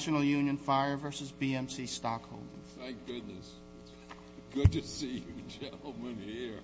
National Union Fire versus BMC Stockholders. Thank goodness, good to see you gentlemen here.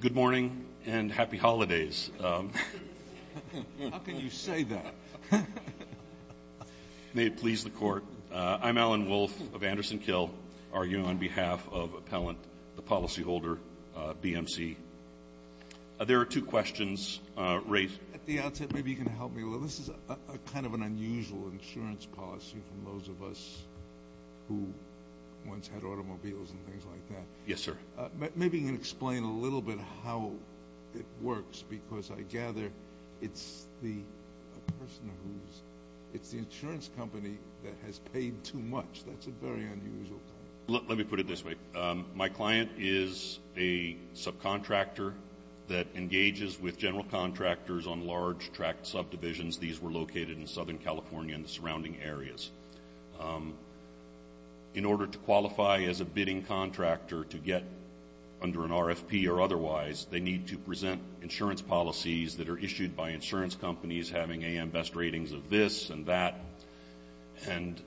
Good morning, and happy holidays. How can you say that? I'm Alan Wolf of Anderson Kill, arguing on behalf of Appellant, the policyholder, BMC. There are two questions. Ray? At the outset, maybe you can help me a little. This is kind of an unusual insurance policy from those of us who once had automobiles and things like that. Yes, sir. Maybe you can explain a little bit how it works, because I gather it's the person who's It's the insurance company that has paid too much. That's a very unusual claim. Let me put it this way. My client is a subcontractor that engages with general contractors on large tract subdivisions. These were located in Southern California and the surrounding areas. In order to qualify as a bidding contractor to get under an RFP or otherwise, they need to present insurance policies that are issued by insurance companies, having AM best ratings of this and that. And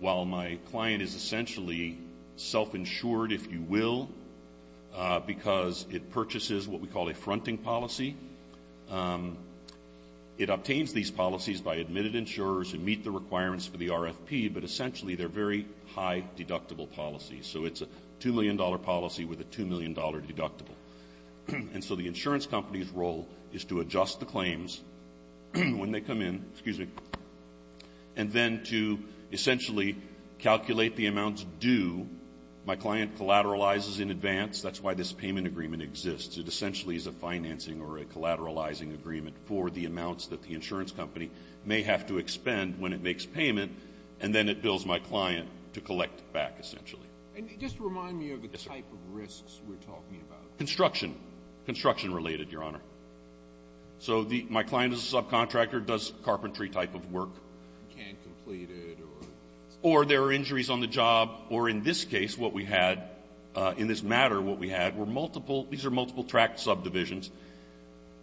while my client is essentially self-insured, if you will, because it purchases what we call a fronting policy, it obtains these policies by admitted insurers who meet the requirements for the RFP, but essentially they're very high deductible policies. So it's a $2 million policy with a $2 million deductible. And so the insurance company's role is to adjust the claims when they come in, and then to essentially calculate the amounts due. My client collateralizes in advance. That's why this payment agreement exists. It essentially is a financing or a collateralizing agreement for the amounts that the insurance company may have to expend when it makes payment, and then it bills my client to collect back, essentially. And just remind me of the type of risks we're talking about. Construction. Construction related, Your Honor. So my client is a subcontractor, does carpentry type of work. Can't complete it. Or there are injuries on the job. Or in this case, what we had in this matter, what we had were multiple, these are multiple tract subdivisions.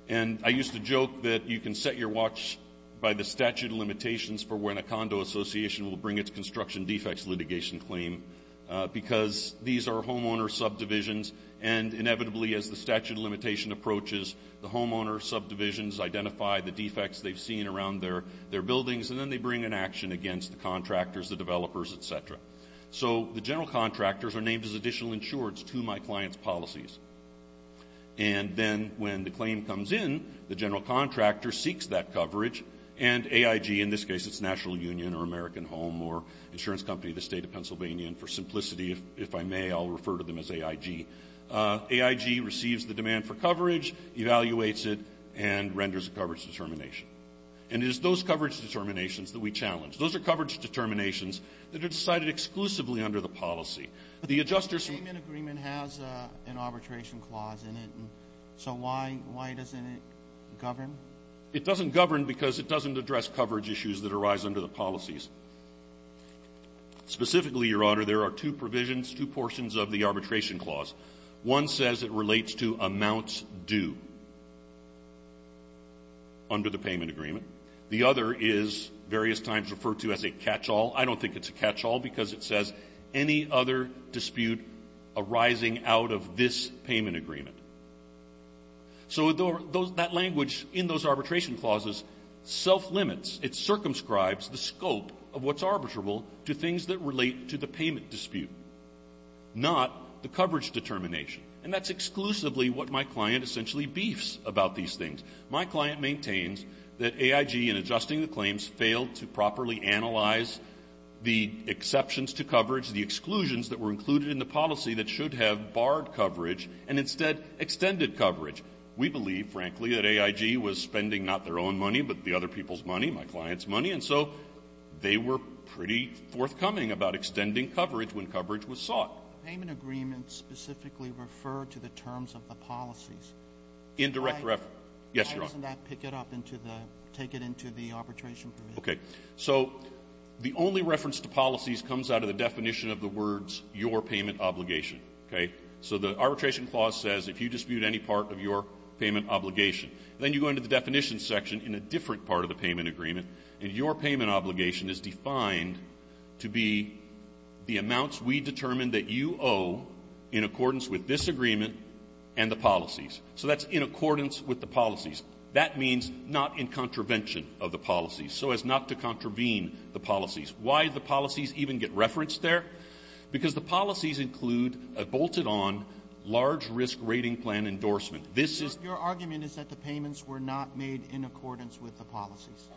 And I used to joke that you can set your watch by the statute of limitations for when a condo association will bring its construction defects litigation claim, because these are homeowner subdivisions, and inevitably as the statute of limitation approaches, the homeowner subdivisions identify the defects they've seen around their buildings, and then they bring an action against the contractors, the developers, et cetera. So the general contractors are named as additional insurers to my client's policies. And then when the claim comes in, the general contractor seeks that coverage, and AIG, in this case it's National Union or American Home or insurance company of the State of Pennsylvania, and for simplicity, if I may, I'll refer to them as AIG. AIG receives the demand for coverage, evaluates it, and renders a coverage determination. And it is those coverage determinations that we challenge. Those are coverage determinations that are decided exclusively under the policy. But the adjustment agreement has an arbitration clause in it. So why doesn't it govern? It doesn't govern because it doesn't address coverage issues that arise under the policies. Specifically, Your Honor, there are two provisions, two portions of the arbitration clause. One says it relates to amounts due under the payment agreement. The other is various times referred to as a catchall. I don't think it's a catchall because it says any other dispute arising out of this payment agreement. So that language in those arbitration clauses self-limits. It circumscribes the scope of what's arbitrable to things that relate to the payment dispute, not the coverage determination. And that's exclusively what my client essentially beefs about these things. My client maintains that AIG, in adjusting the claims, failed to properly analyze the exceptions to coverage, the exclusions that were included in the policy that should have barred coverage, and instead extended coverage. We believe, frankly, that AIG was spending not their own money, but the other people's money, my client's money. And so they were pretty forthcoming about extending coverage when coverage was sought. Payment agreements specifically refer to the terms of the policies. Indirect reference. Yes, Your Honor. Why doesn't that pick it up into the – take it into the arbitration provision? Okay. So the only reference to policies comes out of the definition of the words, your payment obligation, okay? So the arbitration clause says if you dispute any part of your payment obligation, then you go into the definition section in a different part of the payment agreement, and your payment obligation is defined to be the amounts we determine that you owe in accordance with this agreement and the policies. So that's in accordance with the policies. That means not in contravention of the policies, so as not to contravene the policies. Why do the policies even get referenced there? Because the policies include a bolted-on large-risk rating plan endorsement. This is — Your argument is that the payments were not made in accordance with the policies.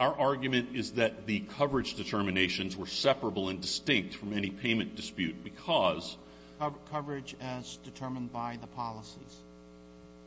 Our argument is that the coverage determinations were separable and distinct from any payment dispute because — Coverage as determined by the policies.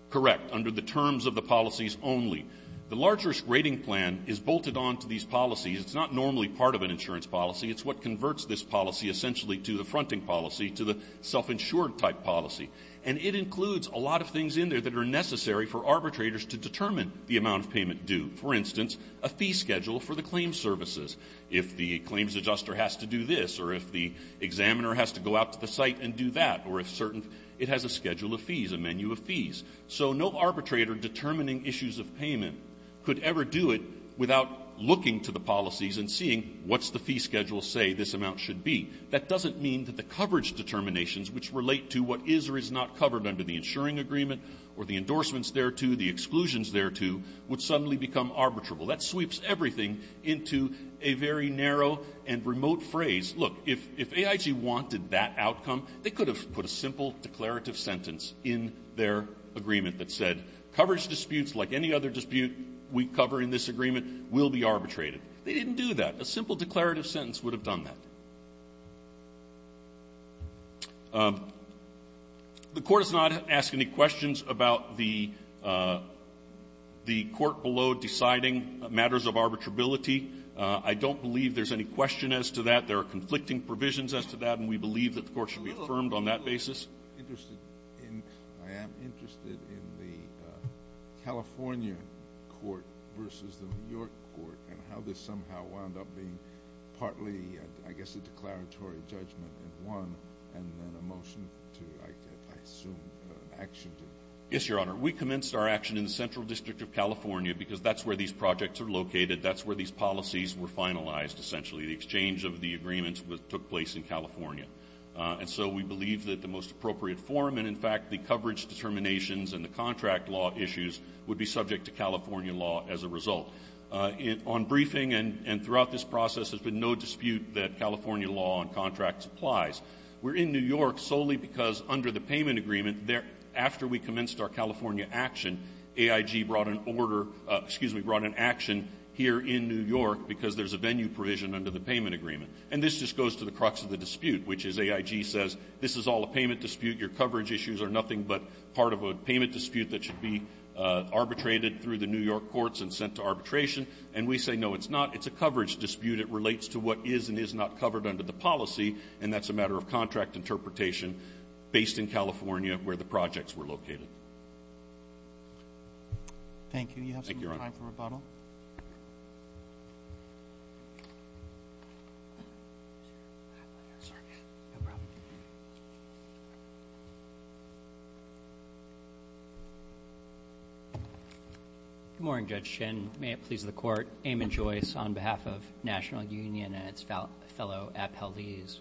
Correct. Under the terms of the policies only. The large-risk rating plan is bolted onto these policies. It's not normally part of an insurance policy. It's what converts this policy essentially to the fronting policy, to the self-insured type policy. And it includes a lot of things in there that are necessary for arbitrators to determine the amount of payment due. For instance, a fee schedule for the claims services. If the claims adjuster has to do this, or if the examiner has to go out to the site and do that, or if certain — it has a schedule of fees, a menu of fees. So no arbitrator determining issues of payment could ever do it without looking to the policies and seeing what's the fee schedule say this amount should be. That doesn't mean that the coverage determinations, which relate to what is or is not covered under the insuring agreement or the endorsements thereto, the exclusions thereto, would suddenly become arbitrable. That sweeps everything into a very narrow and remote phrase. Look, if AIG wanted that outcome, they could have put a simple declarative sentence in their agreement that said coverage disputes, like any other dispute we cover in this agreement, will be arbitrated. They didn't do that. A simple declarative sentence would have done that. The Court has not asked any questions about the court below deciding matters of arbitrability. I don't believe there's any question as to that. There are conflicting provisions as to that, and we believe that the Court should be affirmed on that basis. I am interested in the California court versus the New York court and how this somehow wound up being partly, I guess, a declaratory judgment in one and then a motion to, I assume, action. Yes, Your Honor. We commenced our action in the Central District of California because that's where these projects are located. That's where these policies were finalized, essentially. The exchange of the agreements took place in California. And so we believe that the most appropriate form and, in fact, the coverage determinations and the contract law issues would be subject to California law as a result. On briefing and throughout this process, there's been no dispute that California law on contracts applies. We're in New York solely because under the payment agreement, after we commenced our California action, AIG brought an order, excuse me, brought an action here in New York because there's a venue provision under the payment agreement. And this just goes to the crux of the dispute, which is AIG says this is all a payment dispute. Your coverage issues are nothing but part of a payment dispute that should be arbitrated through the New York courts and sent to arbitration. And we say, no, it's not. It's a coverage dispute. It relates to what is and is not covered under the policy, and that's a matter of contract interpretation based in California where the projects were located. You have some time for rebuttal. Thank you, Your Honor. No problem. Good morning, Judge Shin. May it please the court. Eamon Joyce on behalf of National Union and its fellow appellees.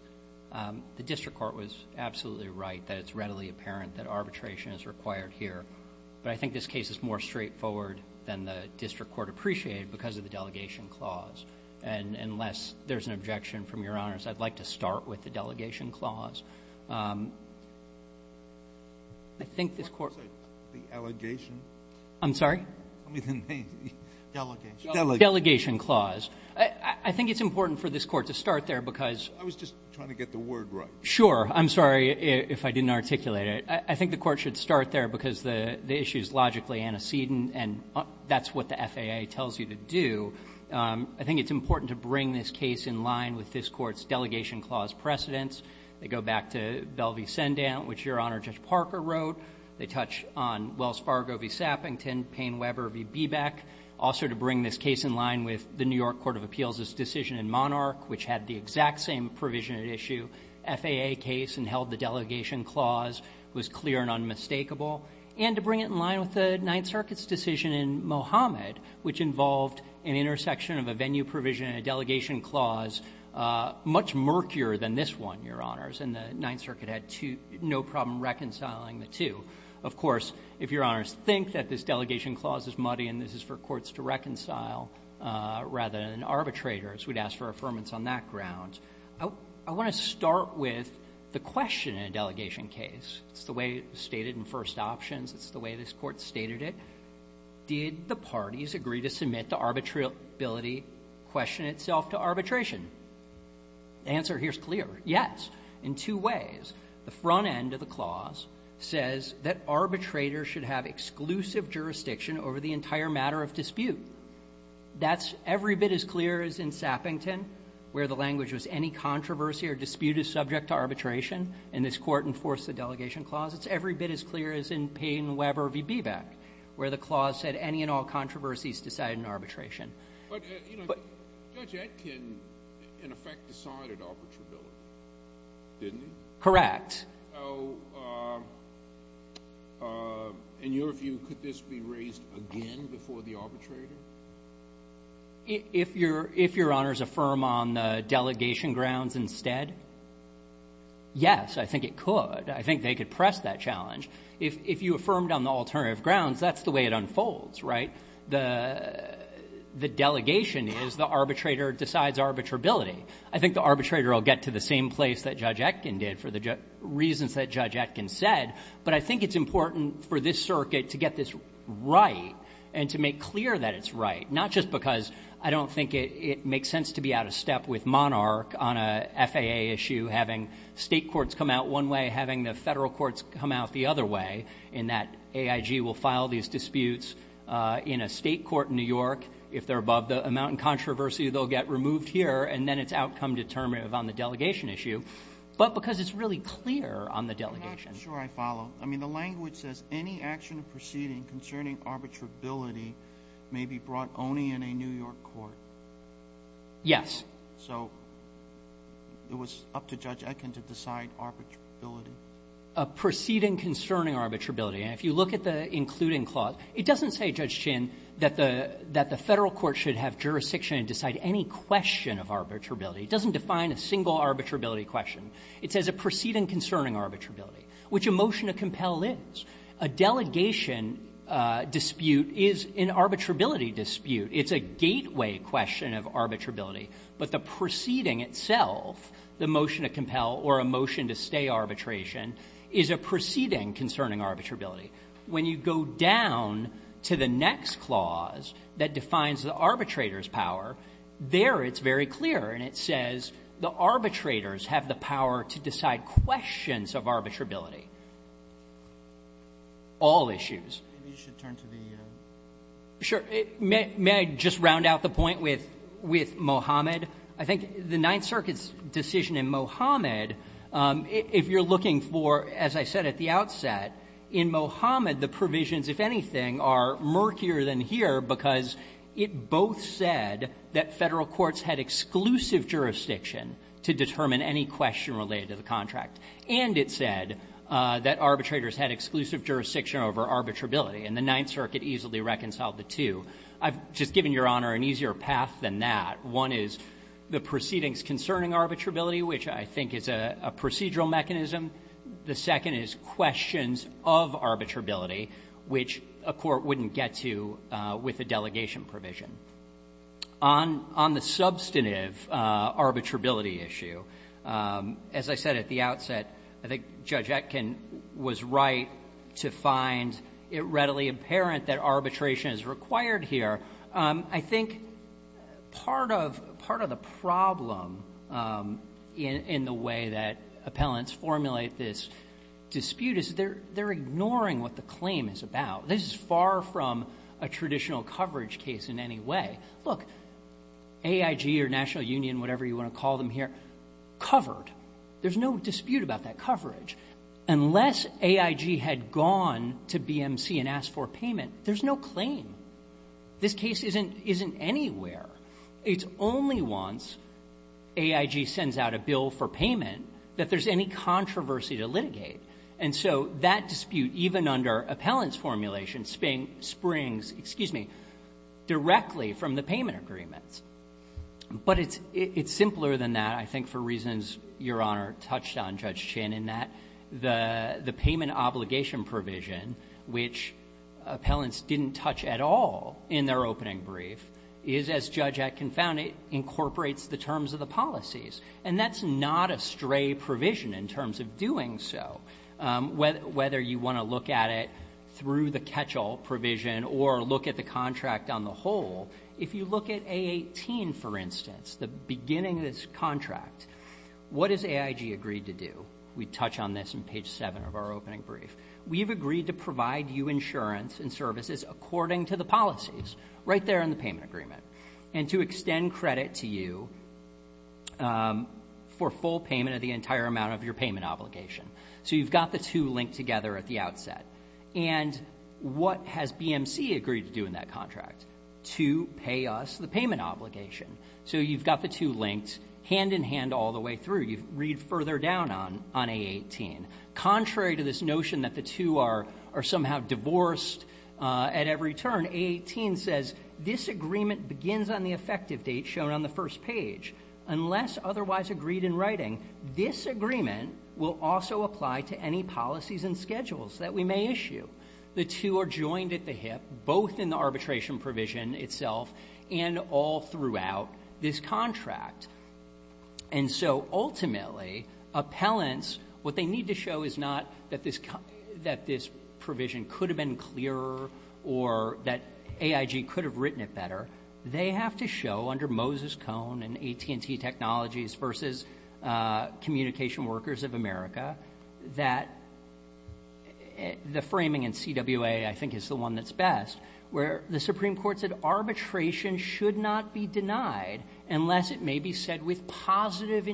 The district court was absolutely right that it's readily apparent that arbitration is required here, but I think this case is more straightforward than the district court appreciated because of the delegation clause. And unless there's an objection from Your Honors, I'd like to start with the delegation clause. I think this court ---- The allegation? I'm sorry? I mean the delegation. Delegation clause. I think it's important for this court to start there because ---- I was just trying to get the word right. I'm sorry if I didn't articulate it. I think the court should start there because the issue is logically antecedent and that's what the FAA tells you to do. I think it's important to bring this case in line with this court's delegation clause precedents. They go back to Belle v. Sendant, which Your Honor Judge Parker wrote. They touch on Wells Fargo v. Sappington, Payne-Weber v. Beebeck. Also to bring this case in line with the New York Court of Appeals' decision in Monarch, which had the exact same provision at issue. FAA case and held the delegation clause was clear and unmistakable. And to bring it in line with the Ninth Circuit's decision in Mohammed, which involved an intersection of a venue provision and a delegation clause much murkier than this one, Your Honors. And the Ninth Circuit had no problem reconciling the two. Of course, if Your Honors think that this delegation clause is muddy and this is for courts to reconcile rather than arbitrators, we'd ask for affirmance on that ground. I want to start with the question in a delegation case. It's the way it was stated in first options. It's the way this Court stated it. Did the parties agree to submit the arbitrability question itself to arbitration? The answer here is clear. Yes, in two ways. The front end of the clause says that arbitrators should have exclusive jurisdiction over the entire matter of dispute. That's every bit as clear as in Sappington, where the language was any controversy or dispute is subject to arbitration, and this Court enforced the delegation clause. It's every bit as clear as in Payne, Weber v. Beebeck, where the clause said any and all controversies decide in arbitration. But, you know, Judge Etkin, in effect, decided arbitrability, didn't he? Correct. So in your view, could this be raised again before the arbitrator? If your honors affirm on the delegation grounds instead, yes, I think it could. I think they could press that challenge. If you affirmed on the alternative grounds, that's the way it unfolds, right? The delegation is the arbitrator decides arbitrability. I think the arbitrator will get to the same place that Judge Etkin did for the reasons that Judge Etkin said, but I think it's important for this circuit to get this right and to make clear that it's right, not just because I don't think it makes sense to be out of step with Monarch on a FAA issue having state courts come out one way, having the federal courts come out the other way, in that AIG will file these disputes in a state court in New York. If they're above the amount in controversy, they'll get removed here, and then it's outcome determinative on the delegation issue, but because it's really clear on the delegation. I'm not sure I follow. I mean, the language says, any action proceeding concerning arbitrability may be brought only in a New York court. Yes. So it was up to Judge Etkin to decide arbitrability. A proceeding concerning arbitrability, and if you look at the including clause, it doesn't say, Judge Chin, that the federal court should have jurisdiction and decide any question of arbitrability. It doesn't define a single arbitrability question. It says a proceeding concerning arbitrability, which a motion to compel is. A delegation dispute is an arbitrability dispute. It's a gateway question of arbitrability, but the proceeding itself, the motion to compel or a motion to stay arbitration, is a proceeding concerning arbitrability. When you go down to the next clause that defines the arbitrator's power, there it's very clear, and it says the arbitrators have the power to decide questions of arbitrability. All issues. Maybe you should turn to the other. Sure. May I just round out the point with Mohammed? I think the Ninth Circuit's decision in Mohammed, if you're looking for, as I said at the outset, in Mohammed the provisions, if anything, are murkier than here because it both said that Federal courts had exclusive jurisdiction to determine any question related to the contract, and it said that arbitrators had exclusive jurisdiction over arbitrability, and the Ninth Circuit easily reconciled the two. I've just given Your Honor an easier path than that. One is the proceedings concerning arbitrability, which I think is a procedural mechanism. The second is questions of arbitrability, which a court wouldn't get to with a delegation provision. On the substantive arbitrability issue, as I said at the outset, I think Judge Etkin was right to find it readily apparent that arbitration is required here. I think part of the problem in the way that appellants formulate this dispute is they're ignoring what the claim is about. This is far from a traditional coverage case in any way. Look, AIG or National Union, whatever you want to call them here, covered. There's no dispute about that coverage. Unless AIG had gone to BMC and asked for payment, there's no claim. This case isn't anywhere. It's only once AIG sends out a bill for payment that there's any controversy to litigate. And so that dispute, even under appellant's formulation, springs, excuse me, directly from the payment agreements. But it's simpler than that, I think, for reasons Your Honor touched on, Judge Chinn, in that the payment obligation provision, which appellants didn't touch at all in their opening brief, is, as Judge Etkin found it, incorporates the terms of the policies. And that's not a stray provision in terms of doing so. Whether you want to look at it through the catch-all provision or look at the contract on the whole, if you look at A18, for instance, the beginning of this contract, what has AIG agreed to do? We touch on this in page 7 of our opening brief. We've agreed to provide you insurance and services according to the policies, right there in the payment agreement, and to extend credit to you for full payment of the entire amount of your payment obligation. So you've got the two linked together at the outset. And what has BMC agreed to do in that contract? To pay us the payment obligation. So you've got the two linked hand-in-hand all the way through. You read further down on A18. Contrary to this notion that the two are somehow divorced at every turn, A18 says this agreement begins on the effective date shown on the first page. Unless otherwise agreed in writing, this agreement will also apply to any policies and schedules that we may issue. The two are joined at the hip, both in the arbitration provision itself and all throughout this contract. And so ultimately, appellants, what they need to show is not that this provision could have been clearer or that AIG could have written it better. They have to show under Moses Cone and AT&T Technologies versus Communication Workers of America that the framing in CWA, I think, is the one that's best, where the Supreme Court said arbitration should not be denied unless it may be said with positive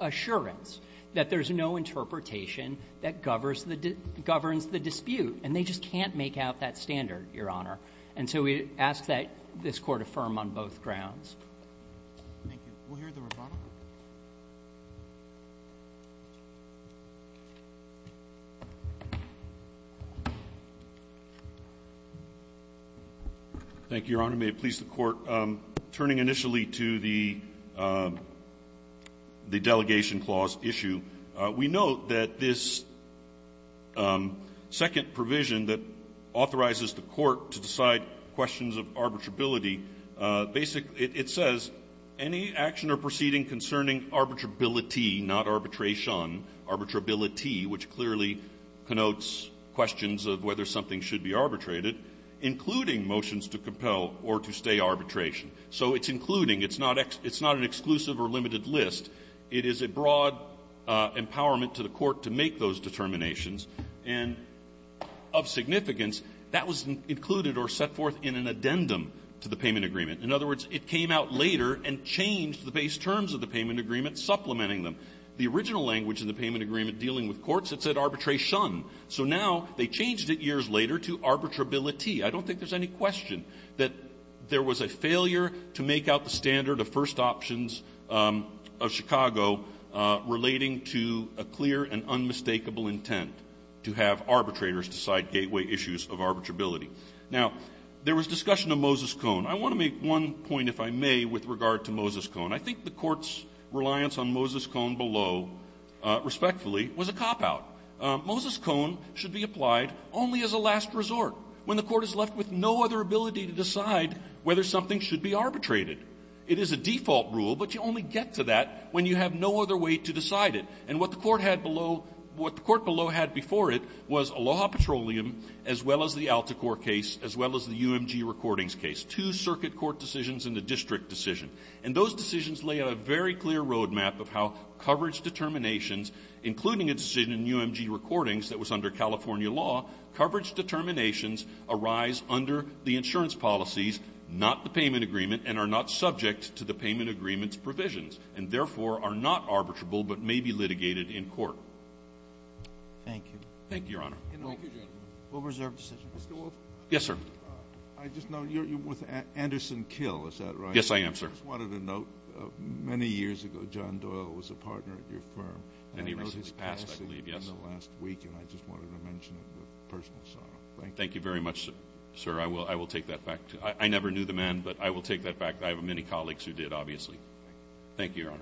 assurance that there's no interpretation that governs the dispute. And they just can't make out that standard, Your Honor. And so we ask that this Court affirm on both grounds. Roberts. May it please the Court. Turning initially to the delegation clause issue, we note that this second provision that authorizes the Court to decide questions of arbitrability, basically it says, any action or proceeding concerning arbitrability, not arbitration, arbitrability, which clearly connotes questions of whether something should be arbitrated, including motions to compel or to stay arbitration. So it's including. It's not an exclusive or limited list. It is a broad empowerment to the Court to make those determinations. And of significance, that was included or set forth in an addendum to the payment agreement. In other words, it came out later and changed the base terms of the payment agreement, supplementing them. The original language in the payment agreement dealing with courts, it said arbitration. So now they changed it years later to arbitrability. I don't think there's any question that there was a failure to make out the standard of first options of Chicago relating to a clear and unmistakable intent to have arbitrators decide gateway issues of arbitrability. Now, there was discussion of Moses Cone. I want to make one point, if I may, with regard to Moses Cone. I think the Court's reliance on Moses Cone below, respectfully, was a cop-out. Moses Cone should be applied only as a last resort, when the Court is left with no other ability to decide whether something should be arbitrated. It is a default rule, but you only get to that when you have no other way to decide it. And what the Court had below — what the Court below had before it was Aloha Petroleum as well as the Alticor case, as well as the UMG Recordings case, two circuit court decisions and a district decision. And those decisions lay out a very clear roadmap of how coverage determinations, including a decision in UMG Recordings that was under California law, coverage determinations arise under the insurance policies, not the payment agreement, and are not subject to the payment agreement's provisions, and therefore are not arbitrable but may be litigated in court. Thank you. Thank you, Your Honor. We'll reserve decisions. Mr. Wolf? Yes, sir. I just know you're with Anderson Kill, is that right? Yes, I am, sir. I just wanted to note, many years ago, John Doyle was a partner at your firm. And he recently passed, I believe, yes. In the last week, and I just wanted to mention it with personal sorrow. Thank you. Thank you very much, sir. I will take that back. I never knew the man, but I will take that back. I have many colleagues who did, obviously. Thank you, Your Honor.